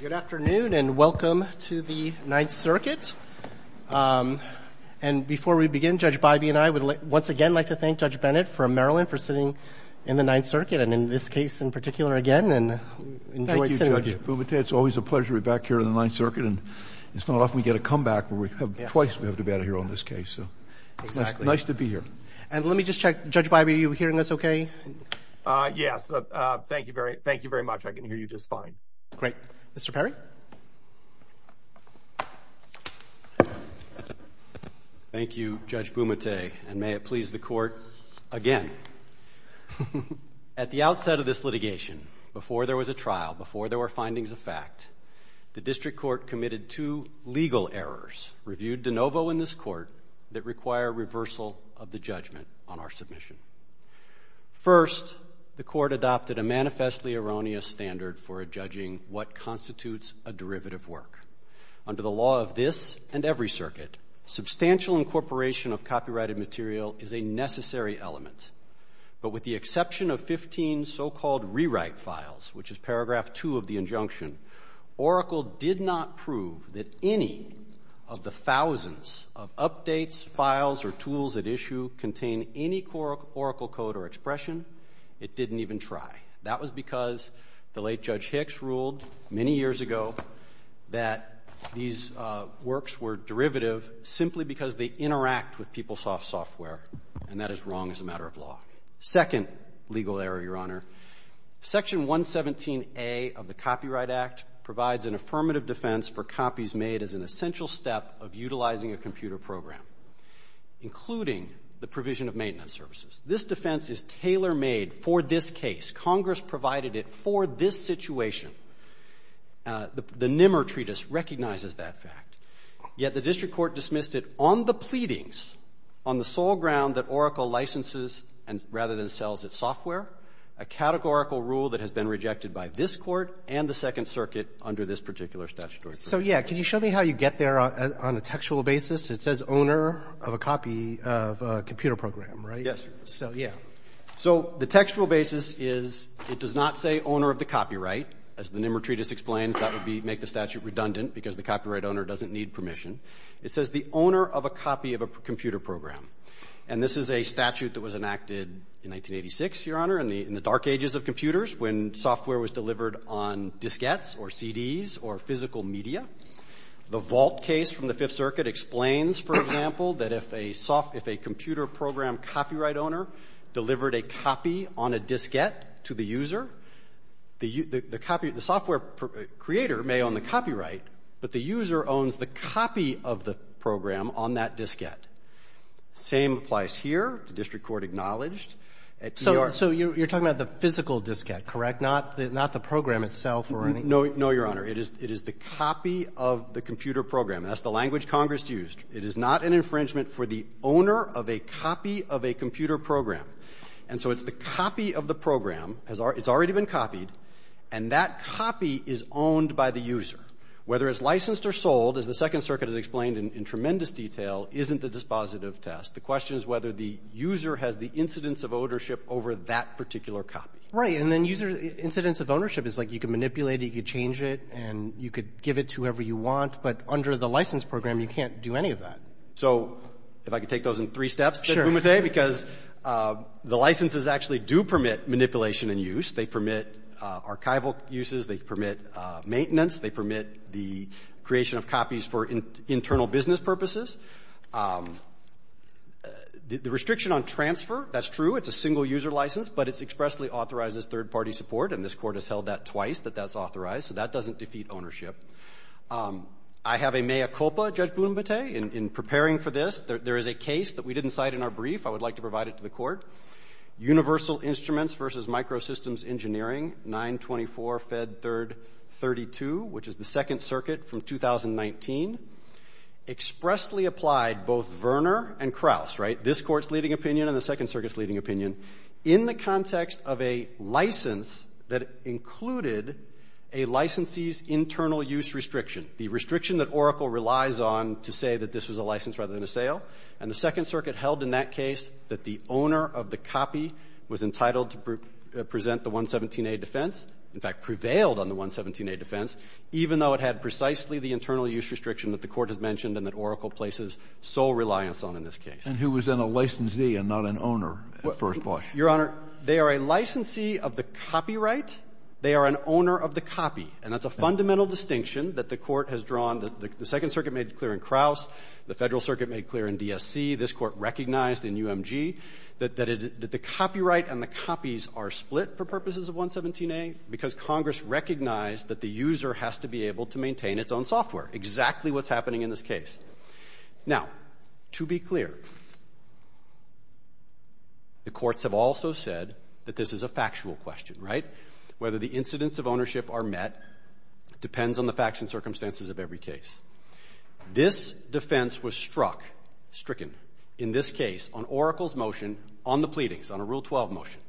Good afternoon and welcome to the Ninth Circuit. And before we begin, Judge Biby and I would once again like to thank Judge Bennett from Maryland for sitting in the Ninth Circuit and in this case in particular again. Thank you, Judge Bumate. It's always a pleasure to be back here in the Ninth Circuit and it's not often we get a comeback where twice we have to be out of here on this case. So it's nice to be here. And let me just check, Judge Biby, are you hearing us okay? Yes, thank you very much. I can hear you just fine. Great. Mr. Perry? Thank you, Judge Bumate, and may it please the Court again. At the outset of this litigation, before there was a trial, before there were findings of fact, the District Court committed two legal errors reviewed de novo in this Court that require reversal of the judgment on our submission. First, the Court adopted a manifestly erroneous standard for judging what constitutes a derivative work. Under the law of this and every circuit, substantial incorporation of copyrighted material is a necessary element. But with the exception of 15 so-called rewrite files, which is paragraph 2 of the injunction, Oracle did not prove that any of the thousands of updates, files, or tools at issue contain any Oracle code or expression. It didn't even try. That was because the late Judge Hicks ruled many years ago that these works were derivative simply because they interact with PeopleSoft software, and that is wrong as a matter of law. Second legal error, Your Honor, Section 117A of the Copyright Act provides an affirmative defense for copies made as an essential step of utilizing a computer program, including the provision of maintenance services. This defense is tailor-made for this case. Congress provided it for this situation. The Nimmer Treatise recognizes that fact. Yet the District Court dismissed it on the pleadings, on the sole ground that Oracle licenses and rather than sells its software, a categorical rule that has been rejected by this Court and the Second Circuit under this particular statutory provision. Roberts. So, yeah, can you show me how you get there on a textual basis? It says owner of a copy of a computer program, right? Yes. So, yeah. So the textual basis is it does not say owner of the copyright. As the Nimmer Treatise explains, that would make the statute redundant because the copyright owner doesn't need permission. It says the owner of a copy of a computer program. And this is a statute that was enacted in 1986, Your Honor, in the dark ages of computers when software was delivered on diskettes or CDs or physical media. The Vault case from the Fifth Circuit explains, for example, that if a software – if a computer program copyright owner delivered a copy on a diskette to the user, the copy – the software creator may own the copyright, but the user owns the copy of the program on that diskette. Same applies here. The District Court acknowledged at E.R. So you're talking about the physical diskette, correct, not the program itself or anything? No. No, Your Honor. It is the copy of the computer program. That's the language used. It is not an infringement for the owner of a copy of a computer program. And so it's the copy of the program. It's already been copied. And that copy is owned by the user. Whether it's licensed or sold, as the Second Circuit has explained in tremendous detail, isn't the dispositive test. The question is whether the user has the incidence of ownership over that particular copy. Right. And then user – incidence of ownership is like you can manipulate it, you can change it, and you could give it to whoever you want. But under the license program, you can't do any of that. So if I could take those in three steps, Mr. Umeteh, because the licenses actually do permit manipulation and use. They permit archival uses. They permit maintenance. They permit the creation of copies for internal business purposes. The restriction on transfer, that's true. It's a single-user license, but it expressly authorizes third-party support. And this Court has held that twice, that that's authorized. So that doesn't defeat ownership. I have a mea culpa, Judge Blumenthal, in preparing for this. There is a case that we didn't cite in our brief. I would like to provide it to the Court. Universal Instruments v. Microsystems Engineering, 924 Fed 3rd 32, which is the Second Circuit from 2019, expressly applied both Verner and Krauss, right, this Court's leading opinion and the Second Circuit's leading opinion, in the context of a license that included a licensee's internal use restriction, the restriction that Oracle relies on to say that this was a license rather than a sale. And the Second Circuit held in that case that the owner of the copy was entitled to present the 117A defense, in fact, prevailed on the 117A defense, even though it had precisely the internal use restriction that the Court has mentioned and that Oracle places sole reliance on in this case. And who was then a licensee and not an owner at First Bosch? Your Honor, they are a licensee of the copyright. They are an owner of the copy. And that's a fundamental distinction that the Court has drawn. The Second Circuit made it clear in Krauss. The Federal Circuit made it clear in DSC. This Court recognized in UMG that the copyright and the copies are split for purposes of 117A because Congress recognized that the user has to be able to maintain its own software, exactly what's happening in this case. Now, to be clear, the courts have also said that this is a factual question, right? Whether the incidents of ownership are met depends on the facts and circumstances of every case. This defense was struck, stricken, in this case on Oracle's motion on the pleadings, on a Rule 12 motion,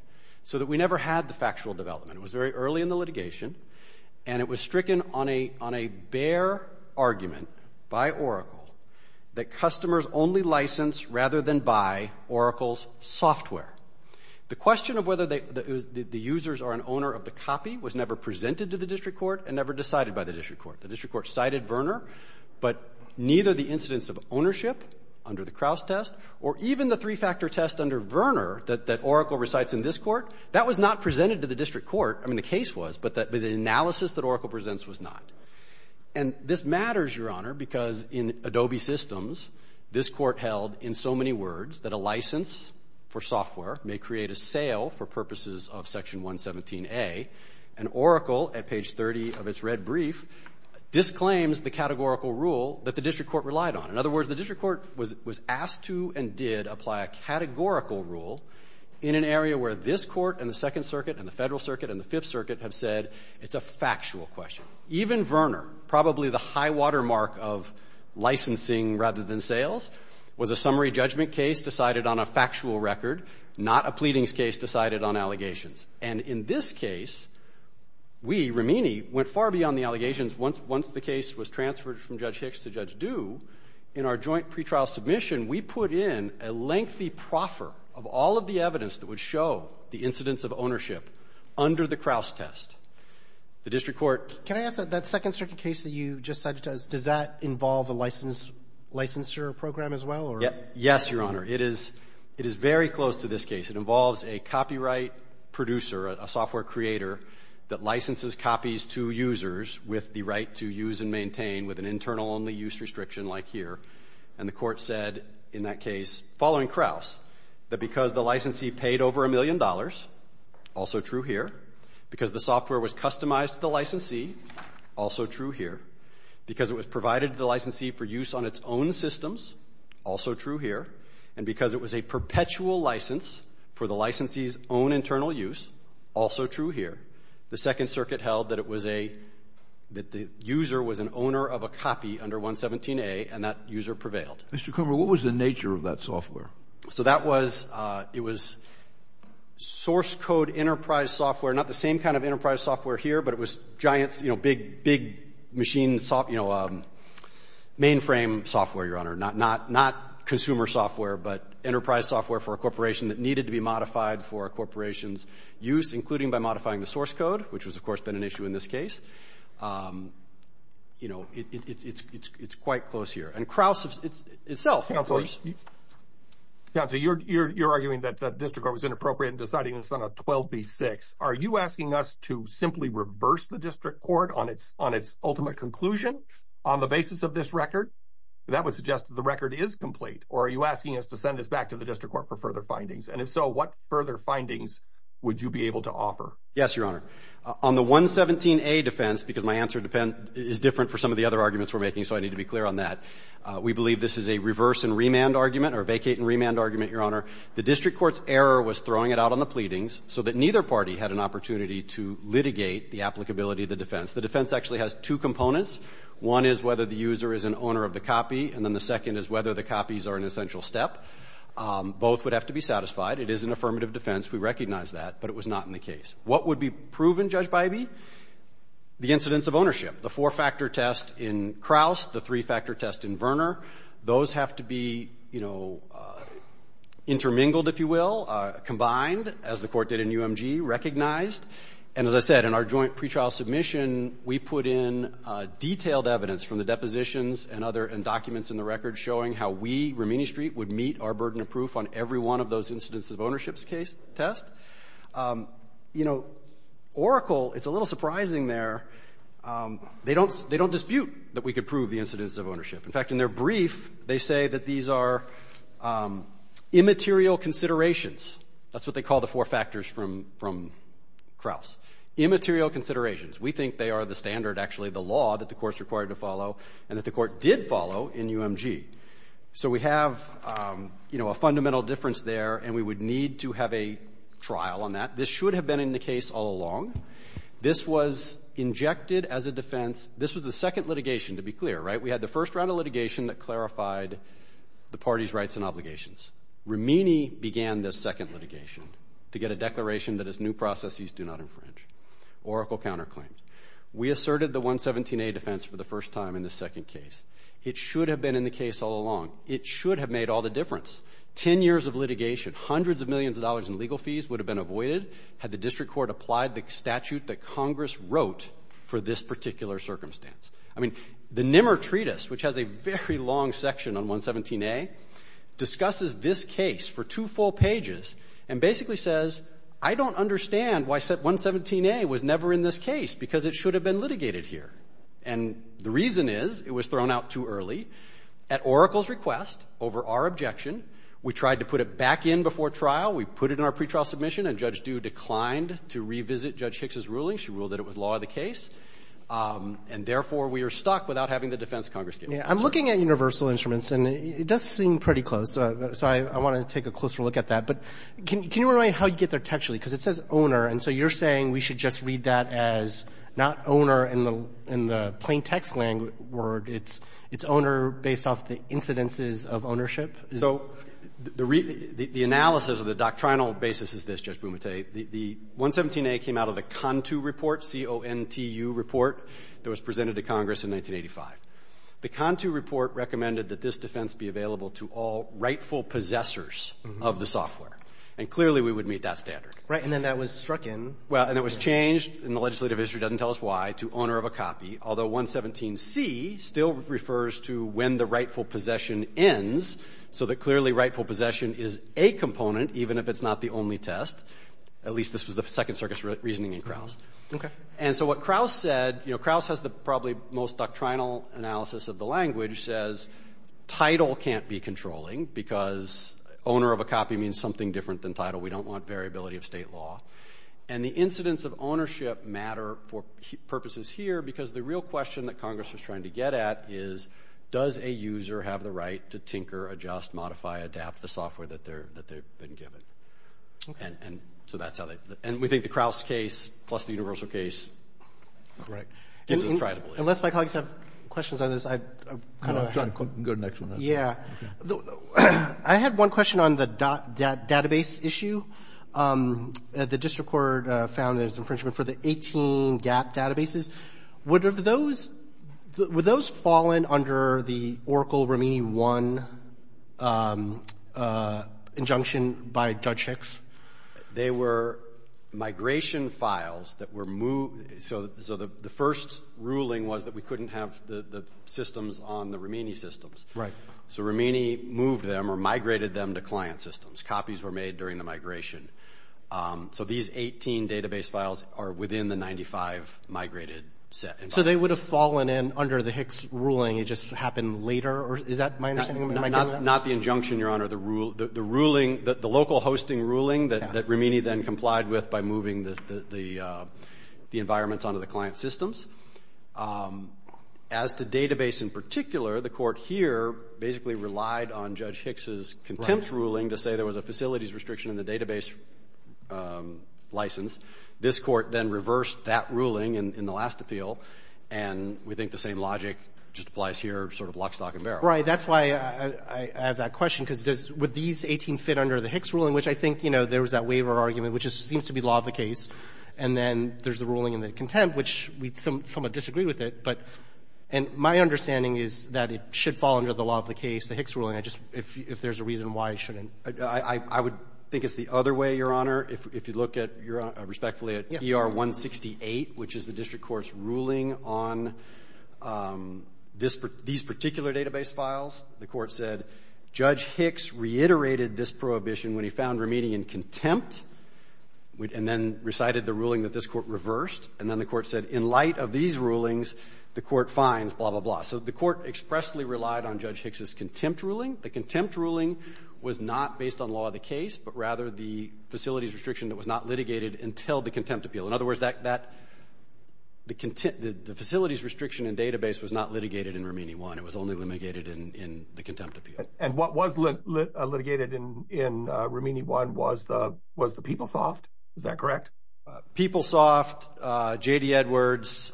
so that we never had the factual development. It was very early in the litigation. And it was stricken on a bare argument by Oracle that customers only license rather than buy Oracle's software. The question of whether the users are an owner of the copy was never presented to the District Court and never decided by the District Court. The District Court cited Verner, but neither the incidents of ownership under the Krauss test or even the three-factor test under Verner that Oracle recites in this Court, that was not presented to the District Court. I mean, the case was, but the analysis that Oracle presents was not. And this matters, Your Honor, because in Adobe Systems, this Court held in so many words that a license for software may create a sale for purposes of Section 117a. And Oracle, at page 30 of its red brief, disclaims the categorical rule that the District Court relied on. In other words, the District Court was asked to and did apply a categorical rule in an area where this Court and the Second Circuit and the Federal Circuit and the Fifth Circuit have said it's a factual question. Even Verner, probably the high-water mark of licensing rather than sales, was a summary judgment case decided on a factual record, not a pleadings case decided on allegations. And in this case, we, Rimini, went far beyond the allegations once the case was transferred from Judge Hicks to Judge Due. In our joint pretrial submission, we put in a lengthy proffer of all of the evidence that would show the incidence of ownership under the Kraus test. The District Court Can I ask that that Second Circuit case that you just cited, does that involve a licensure program as well? Yes, Your Honor. It is very close to this case. It involves a copyright producer, a software creator that licenses copies to users with the right to use and maintain with an licensee paid over a million dollars, also true here, because the software was customized to the licensee, also true here, because it was provided to the licensee for use on its own systems, also true here, and because it was a perpetual license for the licensee's own internal use, also true here. The Second Circuit held that it was a — that the user was an owner of a copy under 117a, and that user prevailed. Mr. Kummer, what was the nature of that software? So that was — it was source code enterprise software, not the same kind of enterprise software here, but it was giant — you know, big machine — you know, mainframe software, Your Honor, not consumer software, but enterprise software for a corporation that needed to be modified for a corporation's use, including by modifying the source code, which has, of course, been an issue in this case. You know, it's quite close here. And Kraus itself, of course — Counsel, you're arguing that the district court was inappropriate in deciding this on a 12b-6. Are you asking us to simply reverse the district court on its ultimate conclusion on the basis of this record? That would suggest that the record is complete. Or are you asking us to send this back to the district court for further findings? And if so, what further findings would you be able to offer? Yes, Your Honor. On the 117a defense — because my answer is different for some of the other arguments we're making, so I need to be clear on that — we believe this is a reverse and or vacate and remand argument, Your Honor. The district court's error was throwing it out on the pleadings so that neither party had an opportunity to litigate the applicability of the defense. The defense actually has two components. One is whether the user is an owner of the copy, and then the second is whether the copies are an essential step. Both would have to be satisfied. It is an affirmative defense. We recognize that, but it was not in the case. What would be proven, Judge Bybee? The incidence of ownership. The four-factor test in Kraus, the three-factor test in Verner, those have to be, you know, intermingled, if you will, combined, as the Court did in UMG, recognized. And as I said, in our joint pretrial submission, we put in detailed evidence from the depositions and other — and documents in the record showing how we, Rumini Street, would meet our burden of proof on every one of those incidence of ownership test. You know, Oracle, it's a little surprising there. They don't — they don't dispute that we could prove the incidence of ownership. In fact, in their brief, they say that these are immaterial considerations. That's what they call the four factors from — from Kraus. Immaterial considerations. We think they are the standard, actually, the law that the Court's required to follow and that the Court did follow in UMG. So we have, you know, a fundamental difference there, and we would need to have a trial on that. This should have been in the case all along. This was injected as a defense. This was the second litigation, to be clear, right? We had the first round of litigation that clarified the party's rights and obligations. Rumini began this second litigation to get a declaration that its new processes do not infringe. Oracle counterclaimed. We asserted the 117A defense for the first time in this second case. It should have been in the case all along. It should have made all the difference. Ten years of litigation, hundreds of millions of dollars in legal fees would have been avoided had the District Court applied the statute that Congress wrote for this particular circumstance. I mean, the Nimmer Treatise, which has a very long section on 117A, discusses this case for two full pages and basically says, I don't understand why 117A was never in this case, because it should have been litigated here. And the reason is it was thrown out too early at Oracle's request over our objection. We tried to put it back in before trial. We put it in our pretrial submission, and Judge Bumate picks his ruling. She ruled that it was law of the case. And, therefore, we are stuck without having the defense Congress gives us. Roberts. I'm looking at universal instruments, and it does seem pretty close, so I want to take a closer look at that. But can you remind me how you get there textually? Because it says owner, and so you're saying we should just read that as not owner in the plain-text word. It's owner based off the incidences of ownership. So the analysis or the doctrinal basis is this, Judge Bumate. The 117A came out of a CONTU report, C-O-N-T-U report, that was presented to Congress in 1985. The CONTU report recommended that this defense be available to all rightful possessors of the software. And clearly we would meet that standard. Right. And then that was struck in. Well, and it was changed, and the legislative history doesn't tell us why, to owner of a copy, although 117C still refers to when the rightful possession ends, so that clearly rightful possession is a component, even if it's not the only test. At least this was the Second Circuit's reasoning in Crouse. And so what Crouse said, you know, Crouse has the probably most doctrinal analysis of the language, says title can't be controlling, because owner of a copy means something different than title. We don't want variability of state law. And the incidents of ownership matter for purposes here, because the real question that Congress was trying to get at is, does a user have the right to tinker, adjust, modify, adapt the software that they've been given? And so that's how they – and we think the Crouse case plus the universal case is intractable. Right. Unless my colleagues have questions on this, I've kind of – Go to the next one. Yeah. I had one question on the database issue. The district court found there's infringement for the 18 GAP databases. Would those – would those fall in under the Oracle-Romini 1 injunction by Judge Hicks? They were migration files that were – so the first ruling was that we couldn't have the systems on the Romini systems. Right. So Romini moved them or migrated them to client systems. Copies were made during the migration. So these 18 database files are within the 95 migrated set. So they would have fallen in under the Hicks ruling. It just happened later? Is that my understanding? Not the injunction, Your Honor. The ruling – the local hosting ruling that Romini then complied with by moving the environments onto the client systems. As to database in particular, the court here basically relied on Judge Hicks's contempt ruling to say there was a facilities restriction in the database license. This court then reversed that ruling in the last appeal, and we think the same logic just applies here, sort of lock, stock and barrel. Right. That's why I have that question, because does – would these 18 fit under the Hicks ruling, which I think, you know, there was that waiver argument, which just seems to be law of the case. And then there's the ruling in the contempt, which we somewhat disagree with it. But – and my understanding is that it should fall under the law of the case, the Hicks ruling. I just – if there's a reason why it shouldn't. I would think it's the other way, Your Honor, if you look at – respectfully at ER-168, which is the district court's ruling on these particular database files. The court said Judge Hicks reiterated this prohibition when he found Romini in contempt, and then recited the ruling that this court reversed. And then the court said in light of these rulings, the court fines, blah, blah, blah. So the court expressly relied on Judge Hicks' contempt ruling. The contempt ruling was not based on law of the case, but rather the facilities restriction that was not litigated until the contempt appeal. In other words, that – the facilities restriction and database was not litigated in Romini 1. It was only litigated in the contempt appeal. And what was litigated in Romini 1 was the PeopleSoft. Is that correct? PeopleSoft, J.D. Edwards.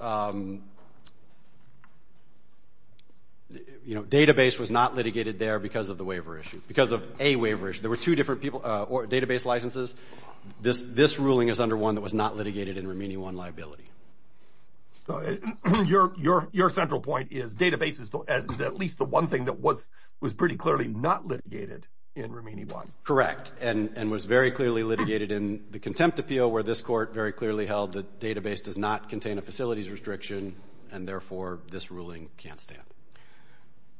You know, database was not litigated there because of the waiver issue, because of a waiver issue. There were two different people – or database licenses. This ruling is under one that was not litigated in Romini 1 liability. Your central point is database is at least the one thing that was pretty clearly not litigated in Romini 1. Correct. And was very clearly litigated in the contempt appeal, where this court very clearly held the database does not contain a facilities restriction, and therefore, this ruling can't stand.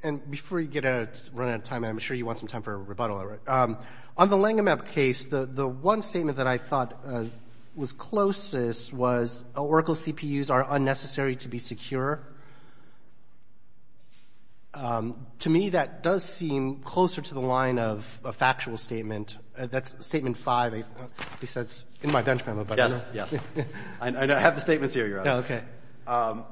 And before you get out of – run out of time, I'm sure you want some time for rebuttal. On the Langham app case, the one statement that I thought was closest was Oracle CPUs are unnecessary to be secure. To me, that does seem closer to the statement – that's statement 5. It says in my bench memo. Yes. Yes. I have the statements here, Your Honor. Okay.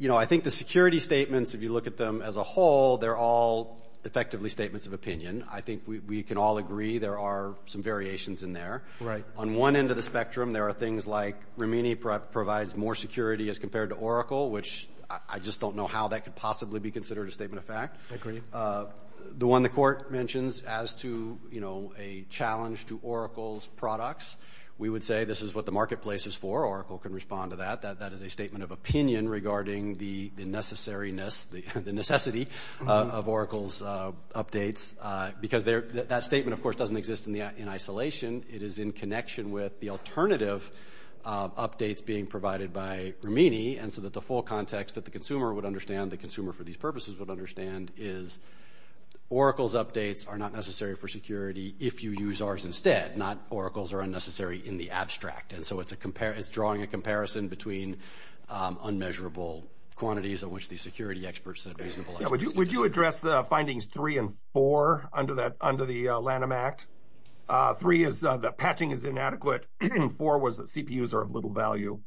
You know, I think the security statements, if you look at them as a whole, they're all effectively statements of opinion. I think we can all agree there are some variations in there. Right. On one end of the spectrum, there are things like Romini provides more security as compared to Oracle, which I just don't know how that could possibly be considered a statement of fact. I agree. The one the court mentions as to, you know, a challenge to Oracle's products, we would say this is what the marketplace is for. Oracle can respond to that. That is a statement of opinion regarding the necessariness – the necessity of Oracle's updates because that statement, of course, doesn't exist in isolation. It is in connection with the alternative updates being provided by Romini and so that the full context that the consumer would understand, the consumer for these Oracle's updates are not necessary for security if you use ours instead, not Oracle's are unnecessary in the abstract. And so it's drawing a comparison between unmeasurable quantities of which the security experts said reasonable. Would you address findings three and four under the Lanham Act? Three is that patching is inadequate. Four was that CPUs are of little value.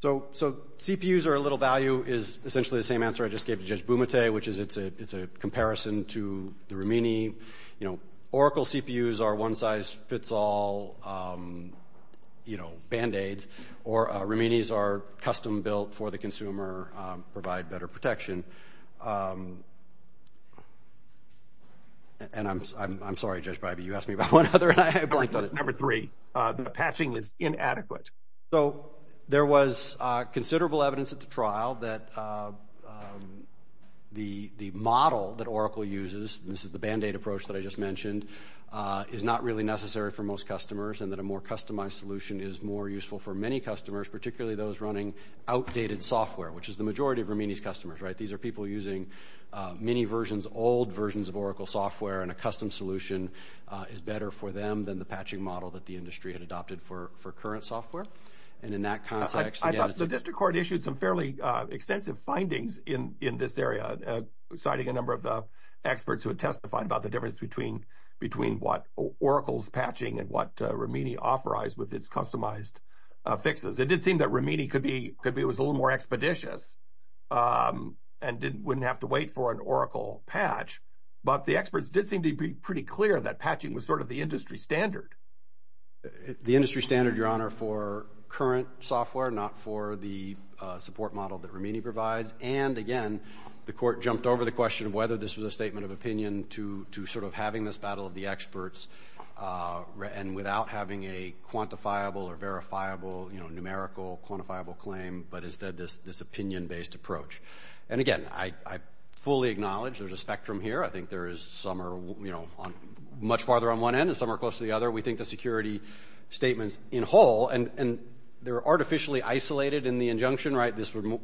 So CPUs are of little value is essentially the same answer I just gave to Judge Bybee in comparison to the Romini. You know, Oracle CPUs are one-size-fits-all, you know, band-aids. Or Romini's are custom-built for the consumer, provide better protection. And I'm sorry, Judge Bybee, you asked me about one other and I blanked on it. Number three, the patching is inadequate. So there was considerable evidence at the trial that the model that Oracle uses, this is the band-aid approach that I just mentioned, is not really necessary for most customers and that a more customized solution is more useful for many customers, particularly those running outdated software, which is the majority of Romini's customers, right? These are people using many versions, old versions of Oracle software and a custom solution is better for them than the patching model that the industry had adopted for current software. And in that context, again, it's... I thought the district court issued some fairly extensive findings in this area, citing a number of the experts who had testified about the difference between what Oracle's patching and what Romini authorized with its customized fixes. It did seem that Romini could be a little more expeditious and wouldn't have to wait for an Oracle patch, but the experts did seem to be pretty clear that patching was sort of the industry standard. The industry standard, Your Honor, for current software, not for the support model that Romini provides, and again, the court jumped over the question of whether this was a statement of opinion to sort of having this battle of the experts and without having a quantifiable or verifiable, you know, numerical quantifiable claim, but instead this opinion-based approach. And again, I fully acknowledge there's a spectrum here. I think there is some are, you know, much farther on one end and some are close to the other. We think the security statements in whole, and they're artificially isolated in the injunction, right? This would be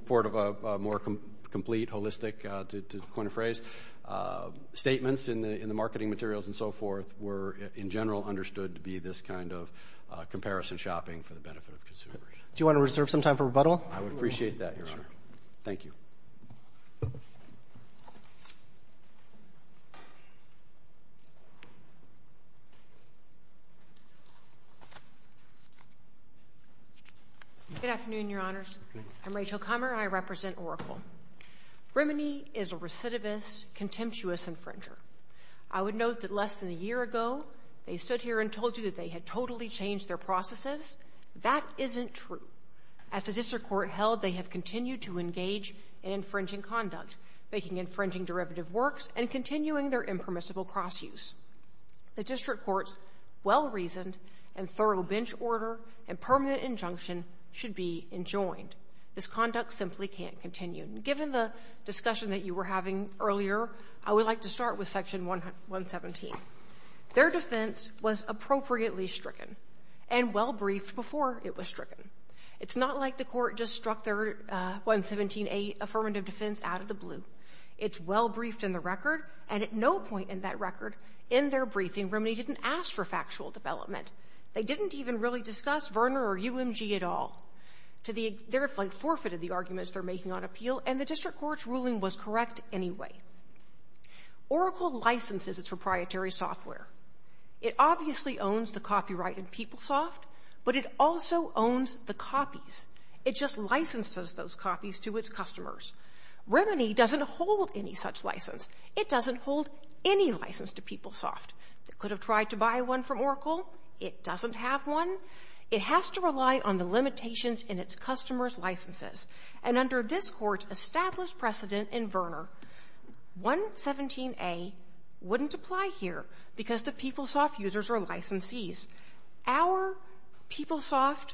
more complete, holistic, to coin a phrase. Statements in the marketing materials and so forth were in general understood to be this kind of comparison shopping for the benefit of consumers. Do you want to reserve some time for rebuttal? I would appreciate that, Your Honor. Thank you. Good afternoon, Your Honors. I'm Rachel Kummer, and I represent Oracle. Romini is a recidivist, contemptuous infringer. I would note that less than a year ago they stood here and told you that they had totally changed their processes. That isn't true. As a district court held, they have continued to engage in infringing conduct, making infringing derivative works and continuing their impermissible cross-use. The district court's well-reasoned and thorough bench order and permanent injunction should be enjoined. This conduct simply can't continue. Given the discussion that you were having earlier, I would like to start with Section 117. Their defense was appropriately stricken and well-briefed before it was stricken. It's not like the court just struck their 117A affirmative defense out of the blue. It's well-briefed in the record, and at no point in that record, in their briefing Romini didn't ask for factual development. They didn't even really discuss Verner or UMG at all. They forfeited the arguments they're making on appeal, and the district court's ruling was correct anyway. Oracle licenses its proprietary software. It obviously owns the copyright in PeopleSoft, but it also owns the copies. It just licenses those copies to its customers. Romini doesn't hold any such license. It doesn't hold any license to PeopleSoft. It could have tried to buy one from Oracle. It doesn't have one. It has to rely on the limitations in its customers' licenses, and under this court's established precedent in Verner, 117A wouldn't apply here because the PeopleSoft users are licensees. Our PeopleSoft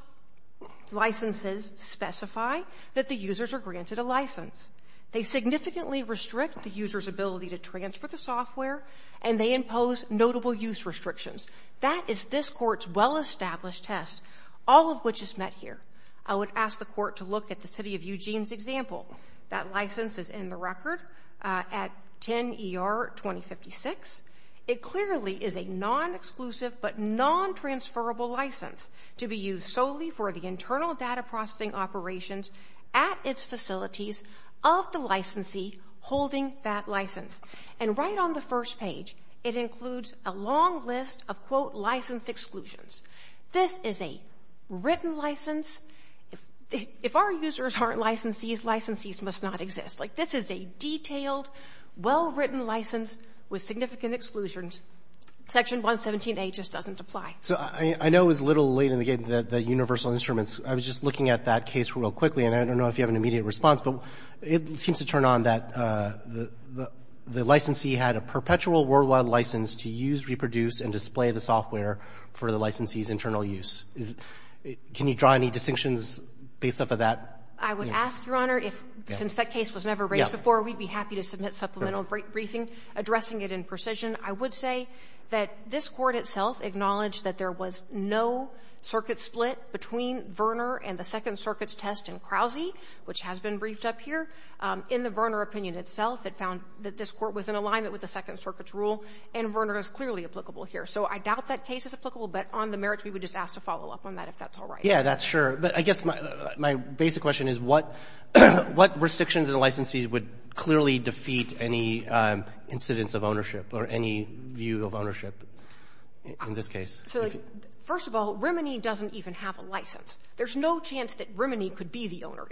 licenses specify that the users are granted a license. They significantly restrict the user's ability to transfer the software, and they impose notable use restrictions. That is this court's well-established test, all of which is met here. I would ask the court to look at the city of Eugene's example. That license is in the record at 10 ER 2056. It clearly is a non-exclusive but non-transferable license to be used solely for the internal data processing operations at its facilities of the licensee holding that license. And right on the first page, it includes a long list of, quote, license exclusions. This is a written license. If our users aren't licensees, licensees must not exist. Like, this is a detailed, well-written license with significant exclusions. Section 117A just doesn't apply. So I know it was a little late in the game, the universal instruments. I was just looking at that case real quickly, and I don't know if you have an immediate response, but it seems to turn on that the licensee had a perpetual worldwide license to use, reproduce, and display the software for the licensee's internal use. Can you draw any distinctions based off of that? I would ask, Your Honor, if, since that case was never raised before, we'd be happy to submit supplemental briefing addressing it in precision. I would say that this Court itself acknowledged that there was no circuit split between Verner and the Second Circuit's test in Crousey, which has been briefed up here. In the Verner opinion itself, it found that this Court was in alignment with the Second Circuit's rule, and Verner is clearly applicable here. So I doubt that case is applicable, but on the merits, we would just ask to follow up on that, if that's all right. Yeah, that's sure. But I guess my basic question is, what restrictions and licensees would clearly defeat any incidence of ownership or any view of ownership in this case? So, first of all, Rimini doesn't even have a license. There's no chance that Rimini could be the owner.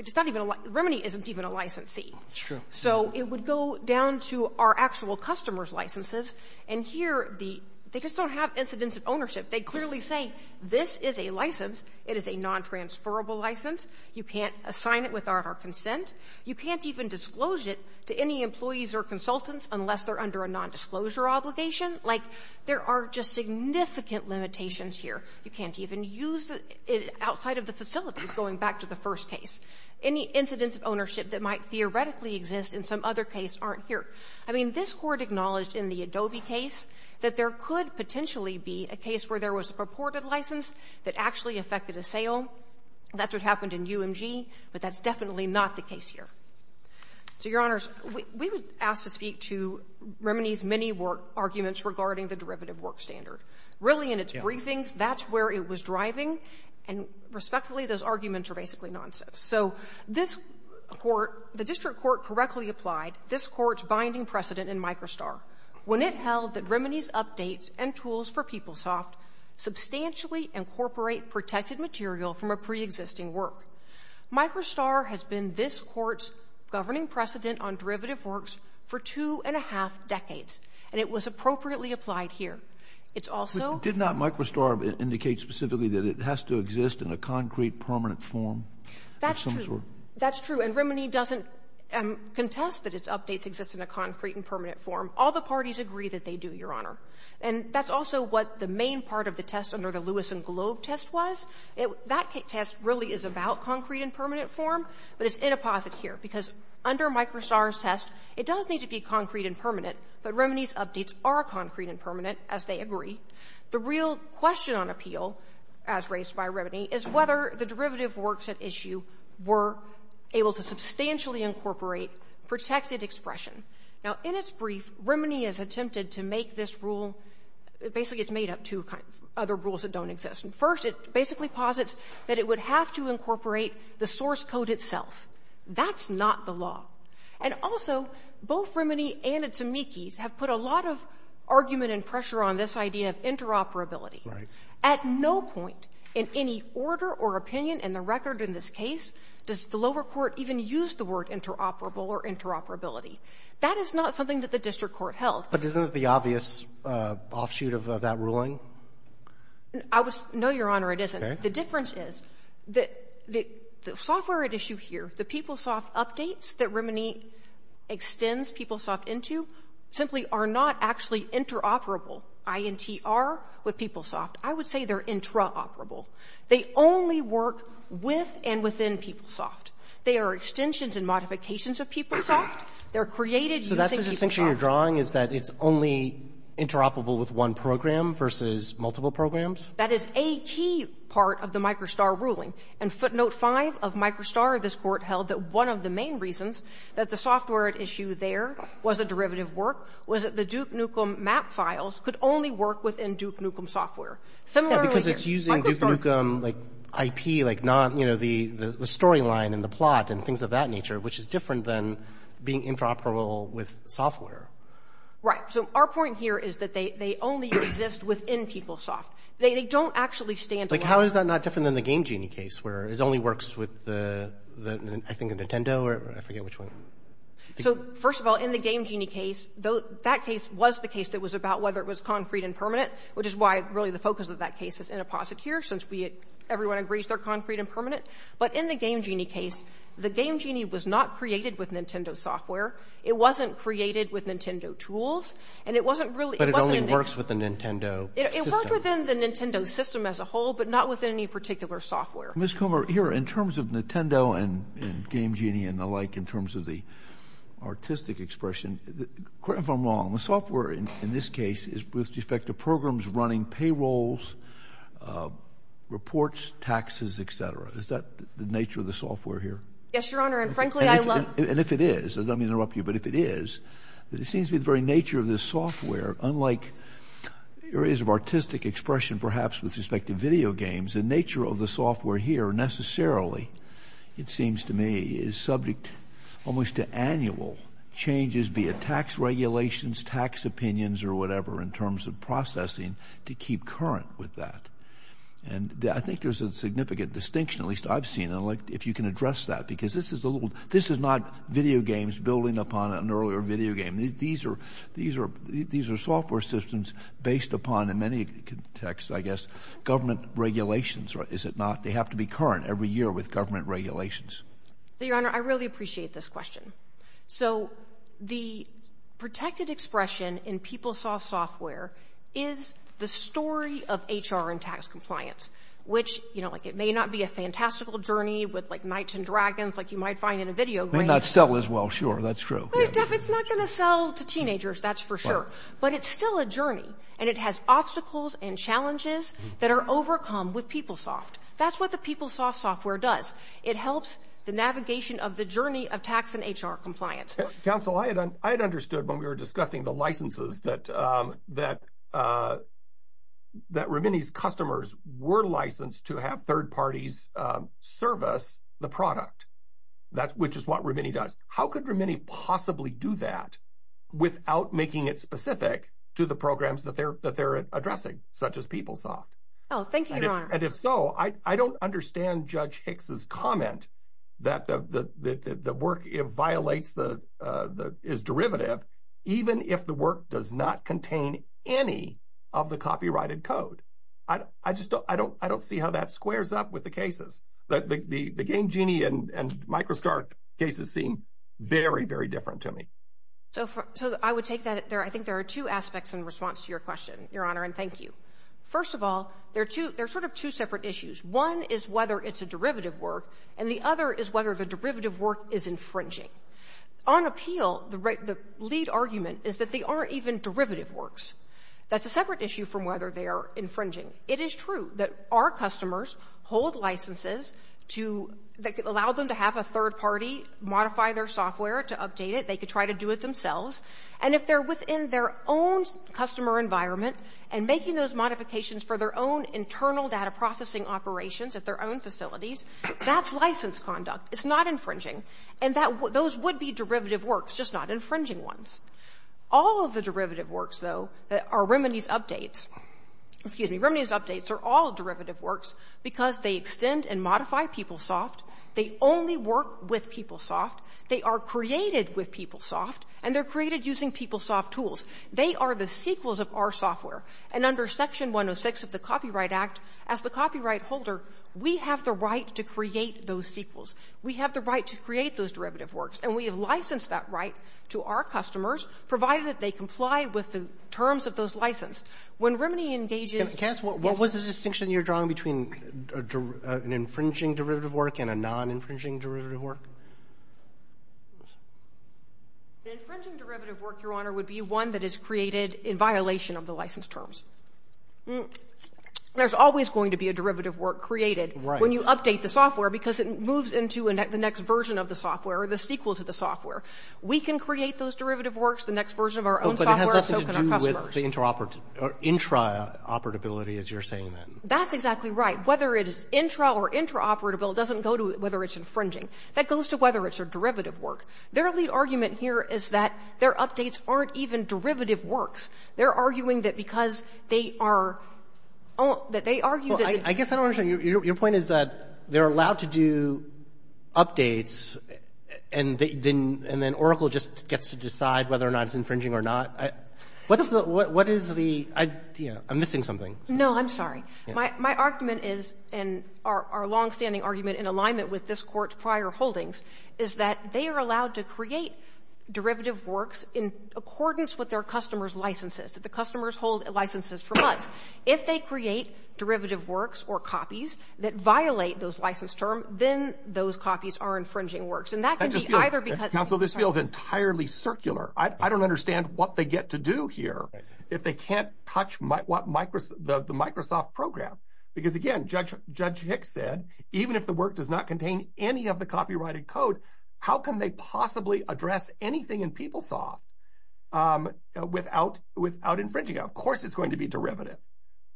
Rimini isn't even a licensee. That's true. So it would go down to our actual customer's licenses, and here, they just don't have incidence of ownership. They clearly say, this is a license. It is a nontransferable license. You can't assign it without our consent. You can't even disclose it to any employees or consultants unless they're under a nondisclosure obligation. Like, there are just significant limitations here. You can't even use it outside of the facilities, going back to the first case. Any incidence of ownership that might theoretically exist in some other case aren't here. I mean, this Court acknowledged in the Adobe case that there could potentially be a case where there was a purported license that actually affected a sale. That's what happened in UMG, but that's definitely not the case here. So, Your Honors, we would ask to speak to Rimini's many arguments regarding the derivative work standard. Really, in its briefings, that's where it was driving, and respectfully, those arguments are basically nonsense. So this Court, the district court correctly applied this Court's binding precedent in MicroSTAR when it held that Rimini's updates and tools for PeopleSoft substantially incorporate protected material from a preexisting work. MicroSTAR has been this Court's governing precedent on derivative works for two and a half decades, and it was appropriately applied here. It's also — Did not MicroSTAR indicate specifically that it has to exist in a concrete, permanent form of some sort? That's true. That's true, and Rimini doesn't contest that its updates exist in a concrete and permanent form. All the parties agree that they do, Your Honor. And that's also what the main part of the test under the Lewis and Globe test was. That test really is about concrete and permanent form, but it's inapposite here, because under MicroSTAR's test, it does need to be concrete and permanent, but Rimini's updates are concrete and permanent, as they agree. The real question on appeal, as raised by Rimini, is whether the derivative works at issue were able to substantially incorporate protected expression. Now, in its brief, Rimini has attempted to make this rule — basically, it's made up of two other rules that don't exist. First, it basically posits that it would have to incorporate the source code itself. That's not the law. And also, both Rimini and its amici have put a lot of argument and pressure on this idea of interoperability. Right. At no point in any order or opinion in the record in this case does the lower court even use the word interoperable or interoperability. That is not something that the district court held. But isn't it the obvious offshoot of that ruling? I was — no, Your Honor, it isn't. Okay. The difference is that the software at issue here, the PeopleSoft updates that Rimini extends PeopleSoft into simply are not actually interoperable. INTR with PeopleSoft, I would say they're intraoperable. They only work with and within PeopleSoft. They are extensions and modifications of PeopleSoft. They're created using PeopleSoft. So that's the distinction you're drawing, is that it's only interoperable with one program versus multiple programs? That is a key part of the MicroSTAR ruling. And footnote 5 of MicroSTAR, this Court held that one of the main reasons that the only work within Duke Nukem software. Similar right here. Yeah, because it's using Duke Nukem, like, IP, like, not, you know, the storyline and the plot and things of that nature, which is different than being interoperable with software. Right. So our point here is that they only exist within PeopleSoft. They don't actually stand alone. Like, how is that not different than the Game Genie case, where it only works with the — I think the Nintendo or I forget which one. So, first of all, in the Game Genie case, that case was the case that was about whether it was concrete and permanent, which is why, really, the focus of that case is inapposite here, since we — everyone agrees they're concrete and permanent. But in the Game Genie case, the Game Genie was not created with Nintendo software. It wasn't created with Nintendo tools. And it wasn't really — But it only works with the Nintendo system. It works within the Nintendo system as a whole, but not with any particular software. Ms. Comer, here, in terms of Nintendo and Game Genie and the like, in terms of the artistic expression, correct me if I'm wrong, the software in this case is, with respect to programs running, payrolls, reports, taxes, et cetera. Is that the nature of the software here? Yes, Your Honor, and frankly, I love — And if it is — and let me interrupt you — but if it is, it seems to be the very nature of this software, unlike areas of artistic expression, perhaps, with respect to video games, the nature of the software here necessarily, it seems to me, is subject almost to annual changes, be it tax regulations, tax opinions, or whatever, in terms of processing, to keep current with that. And I think there's a significant distinction, at least I've seen, if you can address that, because this is not video games building upon an earlier video game. These are software systems based upon, in many contexts, I guess, government regulations, is it not? They have to be current every year with government regulations. Your Honor, I really appreciate this question. So, the protected expression in PeopleSoft software is the story of HR and tax compliance, which, you know, like, it may not be a fantastical journey with, like, Knights and Dragons, like you might find in a video game — It may not sell as well, sure, that's true. It's not going to sell to teenagers, that's for sure. But it's still a journey, and it has obstacles and challenges that are overcome with PeopleSoft. That's what the PeopleSoft software does. It helps the navigation of the journey of tax and HR compliance. Counsel, I had understood when we were discussing the licenses that Rimini's customers were licensed to have third parties service the product, which is what Rimini does. How could Rimini possibly do that without making it specific to the programs that they're addressing, such as PeopleSoft? Oh, thank you, Your Honor. And if so, I don't understand Judge Hicks' comment that the work violates the — is derivative, even if the work does not contain any of the copyrighted code. I just don't — I don't see how that squares up with the cases. The Game Genie and MicroStars cases seem very, very different to me. So, I would take that. I think there are two aspects in response to your question, Your Honor, and thank you. First of all, there are two — there are sort of two separate issues. One is whether it's a derivative work, and the other is whether the derivative work is infringing. On appeal, the lead argument is that they aren't even derivative works. That's a separate issue from whether they are infringing. It is true that our customers hold licenses to — that allow them to have a third party modify their software to update it. They could try to do it themselves. And if they're within their own customer environment and making those modifications for their own internal data processing operations at their own facilities, that's license conduct. It's not infringing. And that — those would be derivative works, just not infringing ones. All of the derivative works, though, that are remedies updates — excuse me, remedies updates are all derivative works because they extend and modify PeopleSoft. They only work with PeopleSoft. They are created with PeopleSoft, and they're created using PeopleSoft tools. They are the sequels of our software. And under Section 106 of the Copyright Act, as the copyright holder, we have the right to create those sequels. We have the right to create those derivative works. And we have licensed that right to our customers, provided that they comply with the terms of those license. When remedy engages — Roberts. What was the distinction you're drawing between an infringing derivative work and a non-infringing derivative work? The infringing derivative work, Your Honor, would be one that is created in violation of the license terms. There's always going to be a derivative work created when you update the software because it moves into the next version of the software or the sequel to the software. We can create those derivative works, the next version of our own software, so can our customers. But it has nothing to do with the intraoperability, as you're saying then. That's exactly right. Whether it is intra or intraoperable doesn't go to whether it's infringing. That goes to whether it's a derivative work. Their lead argument here is that their updates aren't even derivative works. They're arguing that because they are — that they argue that — Well, I guess I don't understand. Your point is that they're allowed to do updates, and then Oracle just gets to decide whether or not it's infringing or not? What's the — what is the — I'm missing something. No, I'm sorry. My argument is, and our longstanding argument in alignment with this court's prior holdings, is that they are allowed to create derivative works in accordance with their customers' licenses, that the customers hold licenses for months. If they create derivative works or copies that violate those license terms, then those copies are infringing works. And that can be either because — Counsel, this feels entirely circular. I don't understand what they get to do here. If they can't touch the Microsoft program, because again, Judge Hicks said, even if the work does not contain any of the copyrighted code, how can they possibly address anything in PeopleSoft without infringing it? Of course it's going to be derivative.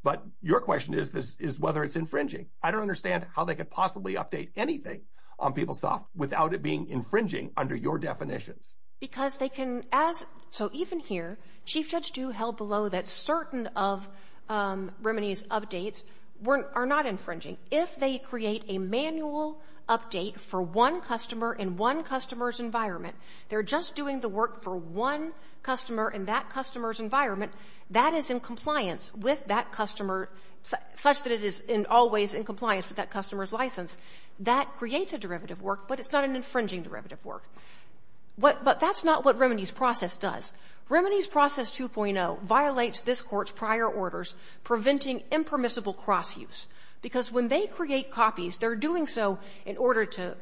But your question is whether it's infringing. I don't understand how they could possibly update anything on PeopleSoft without it being infringing under your definitions. Because they can, as — so even here, Chief Judge Dew held below that certain of Rimini's updates weren't — are not infringing. If they create a manual update for one customer in one customer's environment, they're just doing the work for one customer in that customer's environment, that is in compliance with that customer, such that it is always in compliance with that customer's license. That creates a derivative work, but it's not an infringing derivative work. But that's not what Rimini's process does. Rimini's process 2.0 violates this Court's prior orders preventing impermissible cross-use. Because when they create copies, they're doing so in order to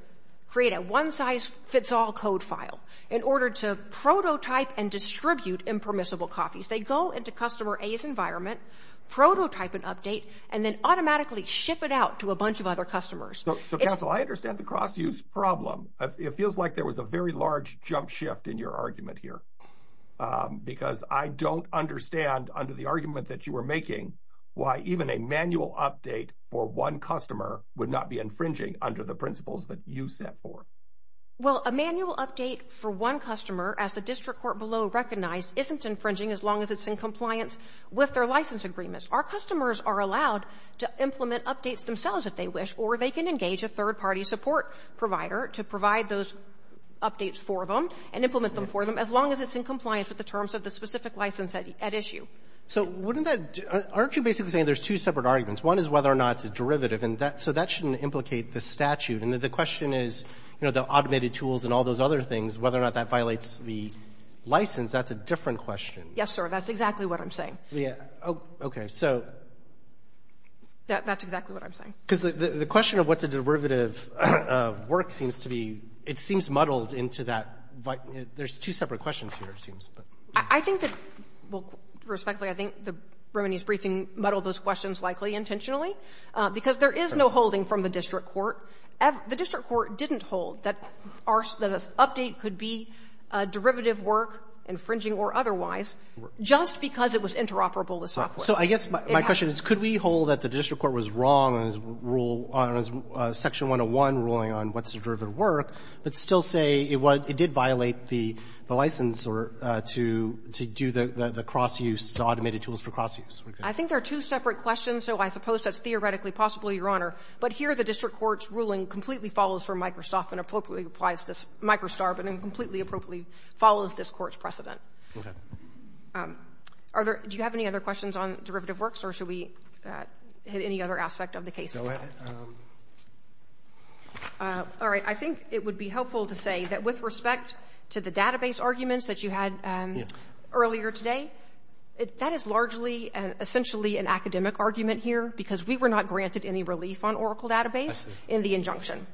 create a one-size-fits-all code file, in order to prototype and distribute impermissible copies. They go into customer A's environment, prototype an update, and then automatically ship it out to a bunch of other customers. So, Counsel, I understand the cross-use problem. It feels like there was a very large jump shift in your argument here. Because I don't understand, under the argument that you were making, why even a manual update for one customer would not be infringing under the principles that you set forth. Well, a manual update for one customer, as the District Court below recognized, isn't infringing as long as it's in compliance with their license agreements. Our customers are allowed to implement updates themselves if they wish, or they can engage a third-party support provider to provide those updates for them and implement them for them, as long as it's in compliance with the terms of the specific license at issue. So wouldn't that do — aren't you basically saying there's two separate arguments? One is whether or not it's a derivative. And that — so that shouldn't implicate the statute. And the question is, you know, the automated tools and all those other things, whether or not that violates the license. That's a different question. Yes, sir. That's exactly what I'm saying. Yeah. Okay. So — That's exactly what I'm saying. Because the question of what the derivative work seems to be, it seems muddled into that — there's two separate questions here, it seems. I think that — well, respectfully, I think the remedies briefing muddled those questions likely intentionally, because there is no holding from the District Court. The District Court didn't hold that our — that an update could be a derivative work, infringing or otherwise, just because it was interoperable with software. So I guess my question is, could we hold that the District Court was wrong on its rule — on its section 101 ruling on what's a derivative work, but still say it was — it did violate the license or to do the cross-use, the automated tools for cross-use? I think there are two separate questions. So I suppose that's theoretically possible, Your Honor. But here the District Court's ruling completely follows from Microsoft and appropriately applies to this MicroStar, but then completely appropriately follows this Court's precedent. Okay. Are there — do you have any other questions on derivative works, or should we hit any other aspect of the case? Go ahead. All right. I think it would be helpful to say that with respect to the database arguments that you had earlier today, that is largely and essentially an academic argument here, because we were not granted any relief on Oracle Database in the injunction.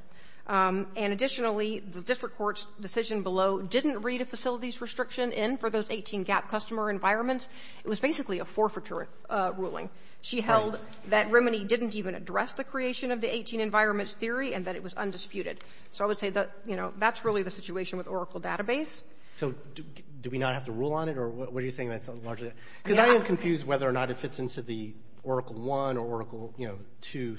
And additionally, the District Court's decision below didn't read a facilities restriction in for those 18 GAP customer environments. It was basically a forfeiture ruling. Right. She held that Remini didn't even address the creation of the 18 environments theory and that it was undisputed. So I would say that, you know, that's really the situation with Oracle Database. So do we not have to rule on it, or what are you saying that's largely — Yeah. Because I am confused whether or not it fits into the Oracle I or Oracle, you know, II.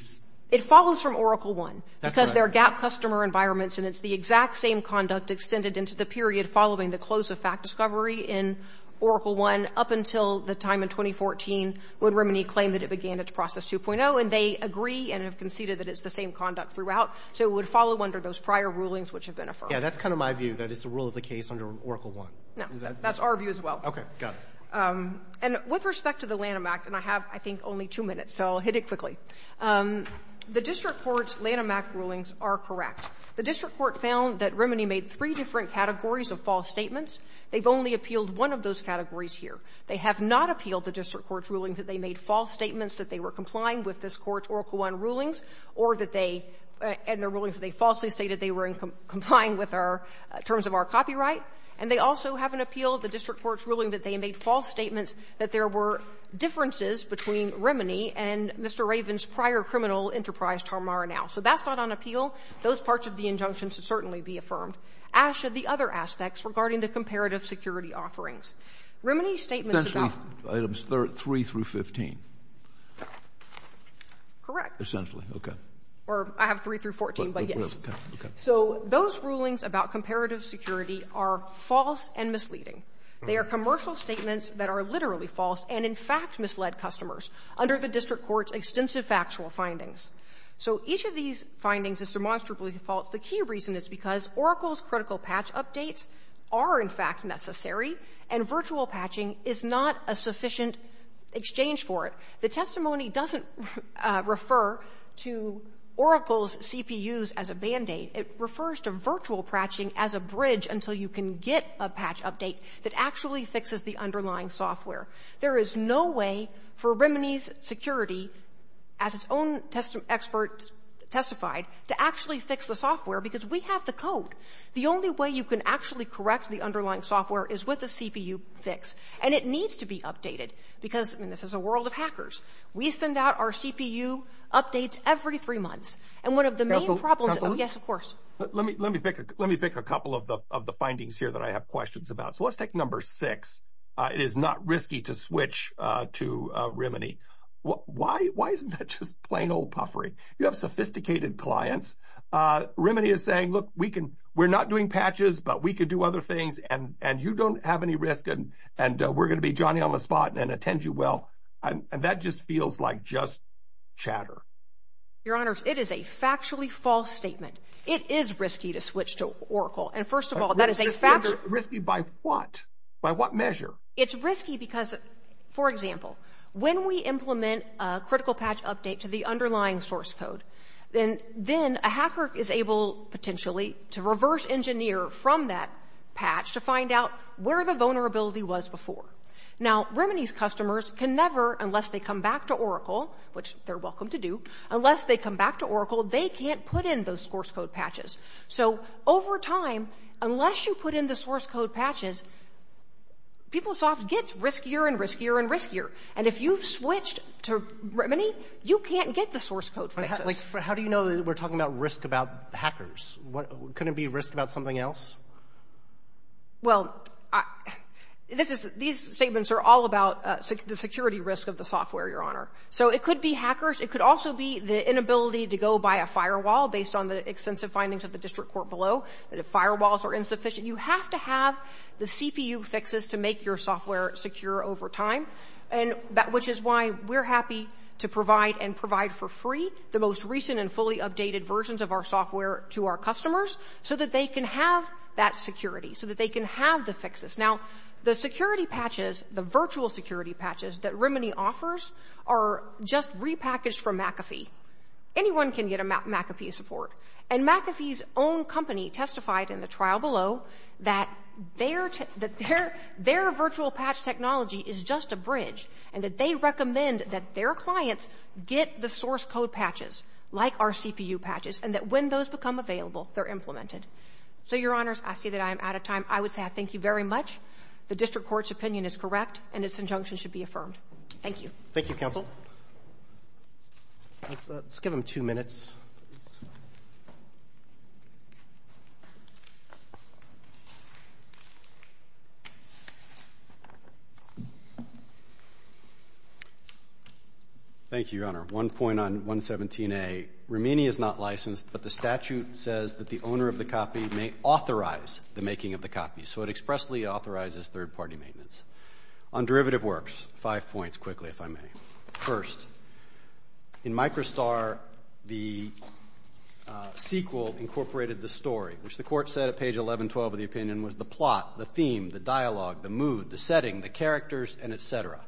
It follows from Oracle I. That's right. Because there are GAP customer environments, and it's the exact same conduct extended into the period following the close of fact discovery in Oracle I up until the time in 2014 when Remini claimed that it began its process 2.0. And they agree and have conceded that it's the same conduct throughout. So it would follow under those prior rulings which have been affirmed. Yeah, that's kind of my view, that it's a rule of the case under Oracle I. No. That's our view as well. Okay. Got it. And with respect to the Lanham Act, and I have, I think, only two minutes, so I'll hit it quickly. The district court's Lanham Act rulings are correct. The district court found that Remini made three different categories of false statements. They've only appealed one of those categories here. They have not appealed the district court's ruling that they made false statements that they were complying with this Court's Oracle I rulings or that they — and the rulings that they falsely stated they were complying with our — terms of our copyright. And they also haven't appealed the district court's ruling that they made false statements that there were differences between Remini and Mr. Raven's prior criminal enterprise Tarmara Now. So that's not on appeal. Those parts of the injunction should certainly be affirmed, as should the other aspects regarding the comparative security offerings. Remini's statements about — Essentially, items 3 through 15. Correct. Essentially. Okay. Or I have 3 through 14, but yes. Okay. So those rulings about comparative security are false and misleading. They are commercial statements that are literally false and, in fact, misled customers under the district court's extensive factual findings. So each of these findings is demonstrably false. The key reason is because Oracle's critical patch updates are, in fact, necessary, and virtual patching is not a sufficient exchange for it. The testimony doesn't refer to Oracle's CPUs as a Band-Aid. It refers to virtual patching as a bridge until you can get a patch update that actually fixes the underlying software. There is no way for Remini's security, as its own experts testified, to actually fix the software, because we have the code. The only way you can actually correct the underlying software is with a CPU fix. And it needs to be updated, because — and this is a world of hackers. We send out our CPU updates every three months. And one of the main problems — Let me pick a couple of the findings here that I have questions about. So let's take number six. It is not risky to switch to Remini. Why isn't that just plain old puffery? You have sophisticated clients. Remini is saying, look, we're not doing patches, but we can do other things, and you don't have any risk, and we're going to be Johnny-on-the-spot and attend you well. And that just feels like just chatter. Your Honors, it is a factually false statement. It is risky to switch to Oracle. And first of all, that is a fact — Risky by what? By what measure? It's risky because, for example, when we implement a critical patch update to the underlying source code, then a hacker is able, potentially, to reverse engineer from that patch to find out where the vulnerability was before. Now, Remini's customers can never, unless they come back to Oracle, which they're So, over time, unless you put in the source code patches, PeopleSoft gets riskier and riskier and riskier. And if you've switched to Remini, you can't get the source code fixes. How do you know that we're talking about risk about hackers? Couldn't it be risk about something else? Well, these statements are all about the security risk of the software, Your Honor. So it could be hackers. It could also be the inability to go by a firewall, based on the extensive findings of the district court below, that if firewalls are insufficient, you have to have the CPU fixes to make your software secure over time, which is why we're happy to provide and provide for free the most recent and fully updated versions of our software to our customers so that they can have that security, so that they can have the fixes. Now, the security patches, the virtual security patches that Remini offers are just repackaged from McAfee. Anyone can get a McAfee support. And McAfee's own company testified in the trial below that their virtual patch technology is just a bridge and that they recommend that their clients get the source code patches, like our CPU patches, and that when those become available, they're implemented. So, Your Honors, I see that I am out of time. I would say I thank you very much. The district court's opinion is correct, and its injunction should be affirmed. Thank you. Thank you, Counsel. Let's give him two minutes. Thank you, Your Honor. One point on 117A. Remini is not licensed, but the statute says that the owner of the copy may authorize the making of the copy. So it expressly authorizes third-party maintenance. On derivative works, five points quickly, if I may. First, in MicroStar, the sequel incorporated the story, which the court said at page 1112 of the opinion was the plot, the theme, the dialogue, the mood, the setting, the characters, and et cetera.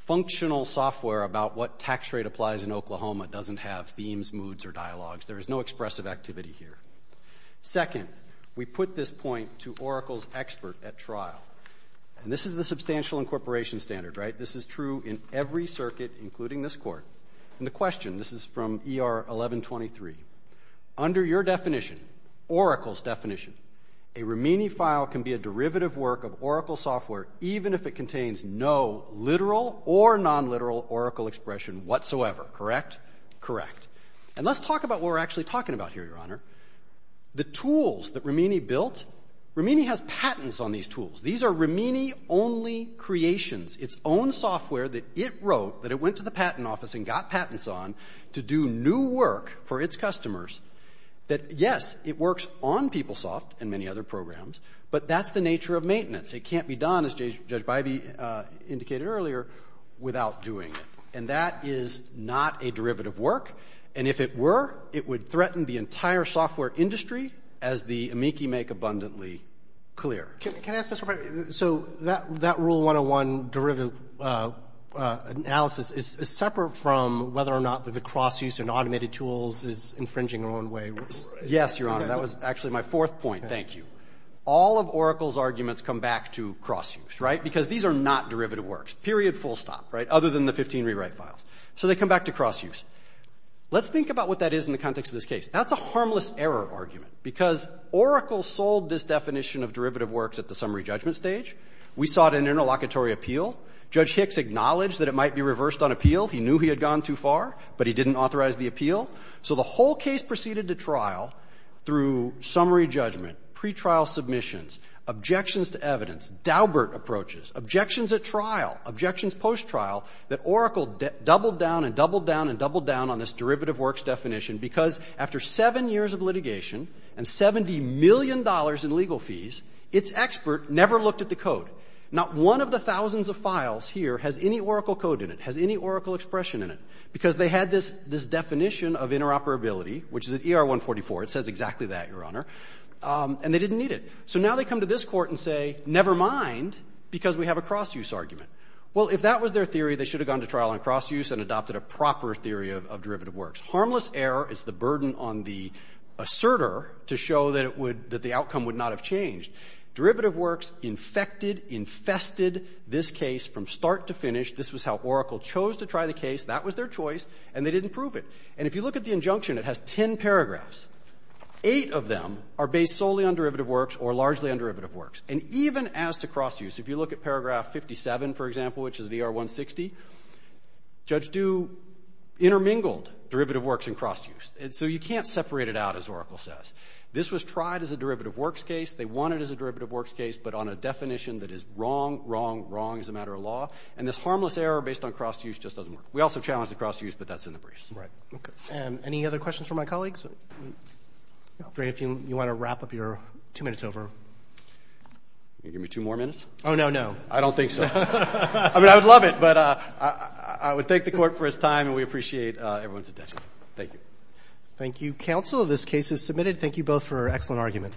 Functional software about what tax rate applies in Oklahoma doesn't have themes, moods, or dialogues. There is no expressive activity here. Second, we put this point to Oracle's expert at trial. And this is the substantial incorporation standard, right? This is true in every circuit, including this Court. And the question, this is from ER 1123. Under your definition, Oracle's definition, a Remini file can be a derivative work of Oracle software even if it contains no literal or nonliteral Oracle expression whatsoever. Correct? Correct. And let's talk about what we're actually talking about here, Your Honor. The tools that Remini built, Remini has patents on these tools. These are Remini-only creations. It's own software that it wrote, that it went to the patent office and got patents on to do new work for its customers, that, yes, it works on PeopleSoft and many other programs, but that's the nature of maintenance. It can't be done, as Judge Bybee indicated earlier, without doing it. And that is not a derivative work. And if it were, it would threaten the entire software industry, as the amici make abundantly clear. Can I ask a question? So that Rule 101 derivative analysis is separate from whether or not the cross-use and automated tools is infringing in one way or another? Yes, Your Honor. That was actually my fourth point. Thank you. All of Oracle's arguments come back to cross-use, right, because these are not derivative works, period, full stop, right, other than the 15 rewrite files. So they come back to cross-use. Let's think about what that is in the context of this case. That's a harmless error argument, because Oracle sold this definition of derivative works at the summary judgment stage. We sought an interlocutory appeal. Judge Hicks acknowledged that it might be reversed on appeal. He knew he had gone too far, but he didn't authorize the appeal. So the whole case proceeded to trial through summary judgment, pretrial submissions, objections to evidence, Daubert approaches, objections at trial, objections post-trial, that Oracle doubled down and doubled down and doubled down on this derivative works definition, because after seven years of litigation and $70 million in legal fees, its expert never looked at the code. Not one of the thousands of files here has any Oracle code in it, has any Oracle expression in it, because they had this definition of interoperability, which is at ER 144. It says exactly that, Your Honor. And they didn't need it. So now they come to this Court and say, never mind, because we have a cross-use argument. Well, if that was their theory, they should have gone to trial on cross-use and adopted a proper theory of derivative works. Harmless error is the burden on the asserter to show that it would — that the outcome would not have changed. Derivative works infected, infested this case from start to finish. This was how Oracle chose to try the case. That was their choice, and they didn't prove it. And if you look at the injunction, it has ten paragraphs. Eight of them are based solely on derivative works or largely on derivative works. And even as to cross-use, if you look at paragraph 57, for example, which is at ER 160, Judge Due intermingled derivative works and cross-use. And so you can't separate it out, as Oracle says. This was tried as a derivative works case. They won it as a derivative works case, but on a definition that is wrong, wrong, wrong as a matter of law. And this harmless error based on cross-use just doesn't work. We also challenged the cross-use, but that's in the briefs. Right. Okay. Any other questions for my colleagues? If you want to wrap up your two minutes over. You going to give me two more minutes? Oh, no, no. I don't think so. I mean, I would love it, but I would thank the court for his time, and we appreciate everyone's attention. Thank you. Thank you, counsel. This case is submitted. Thank you both for an excellent argument.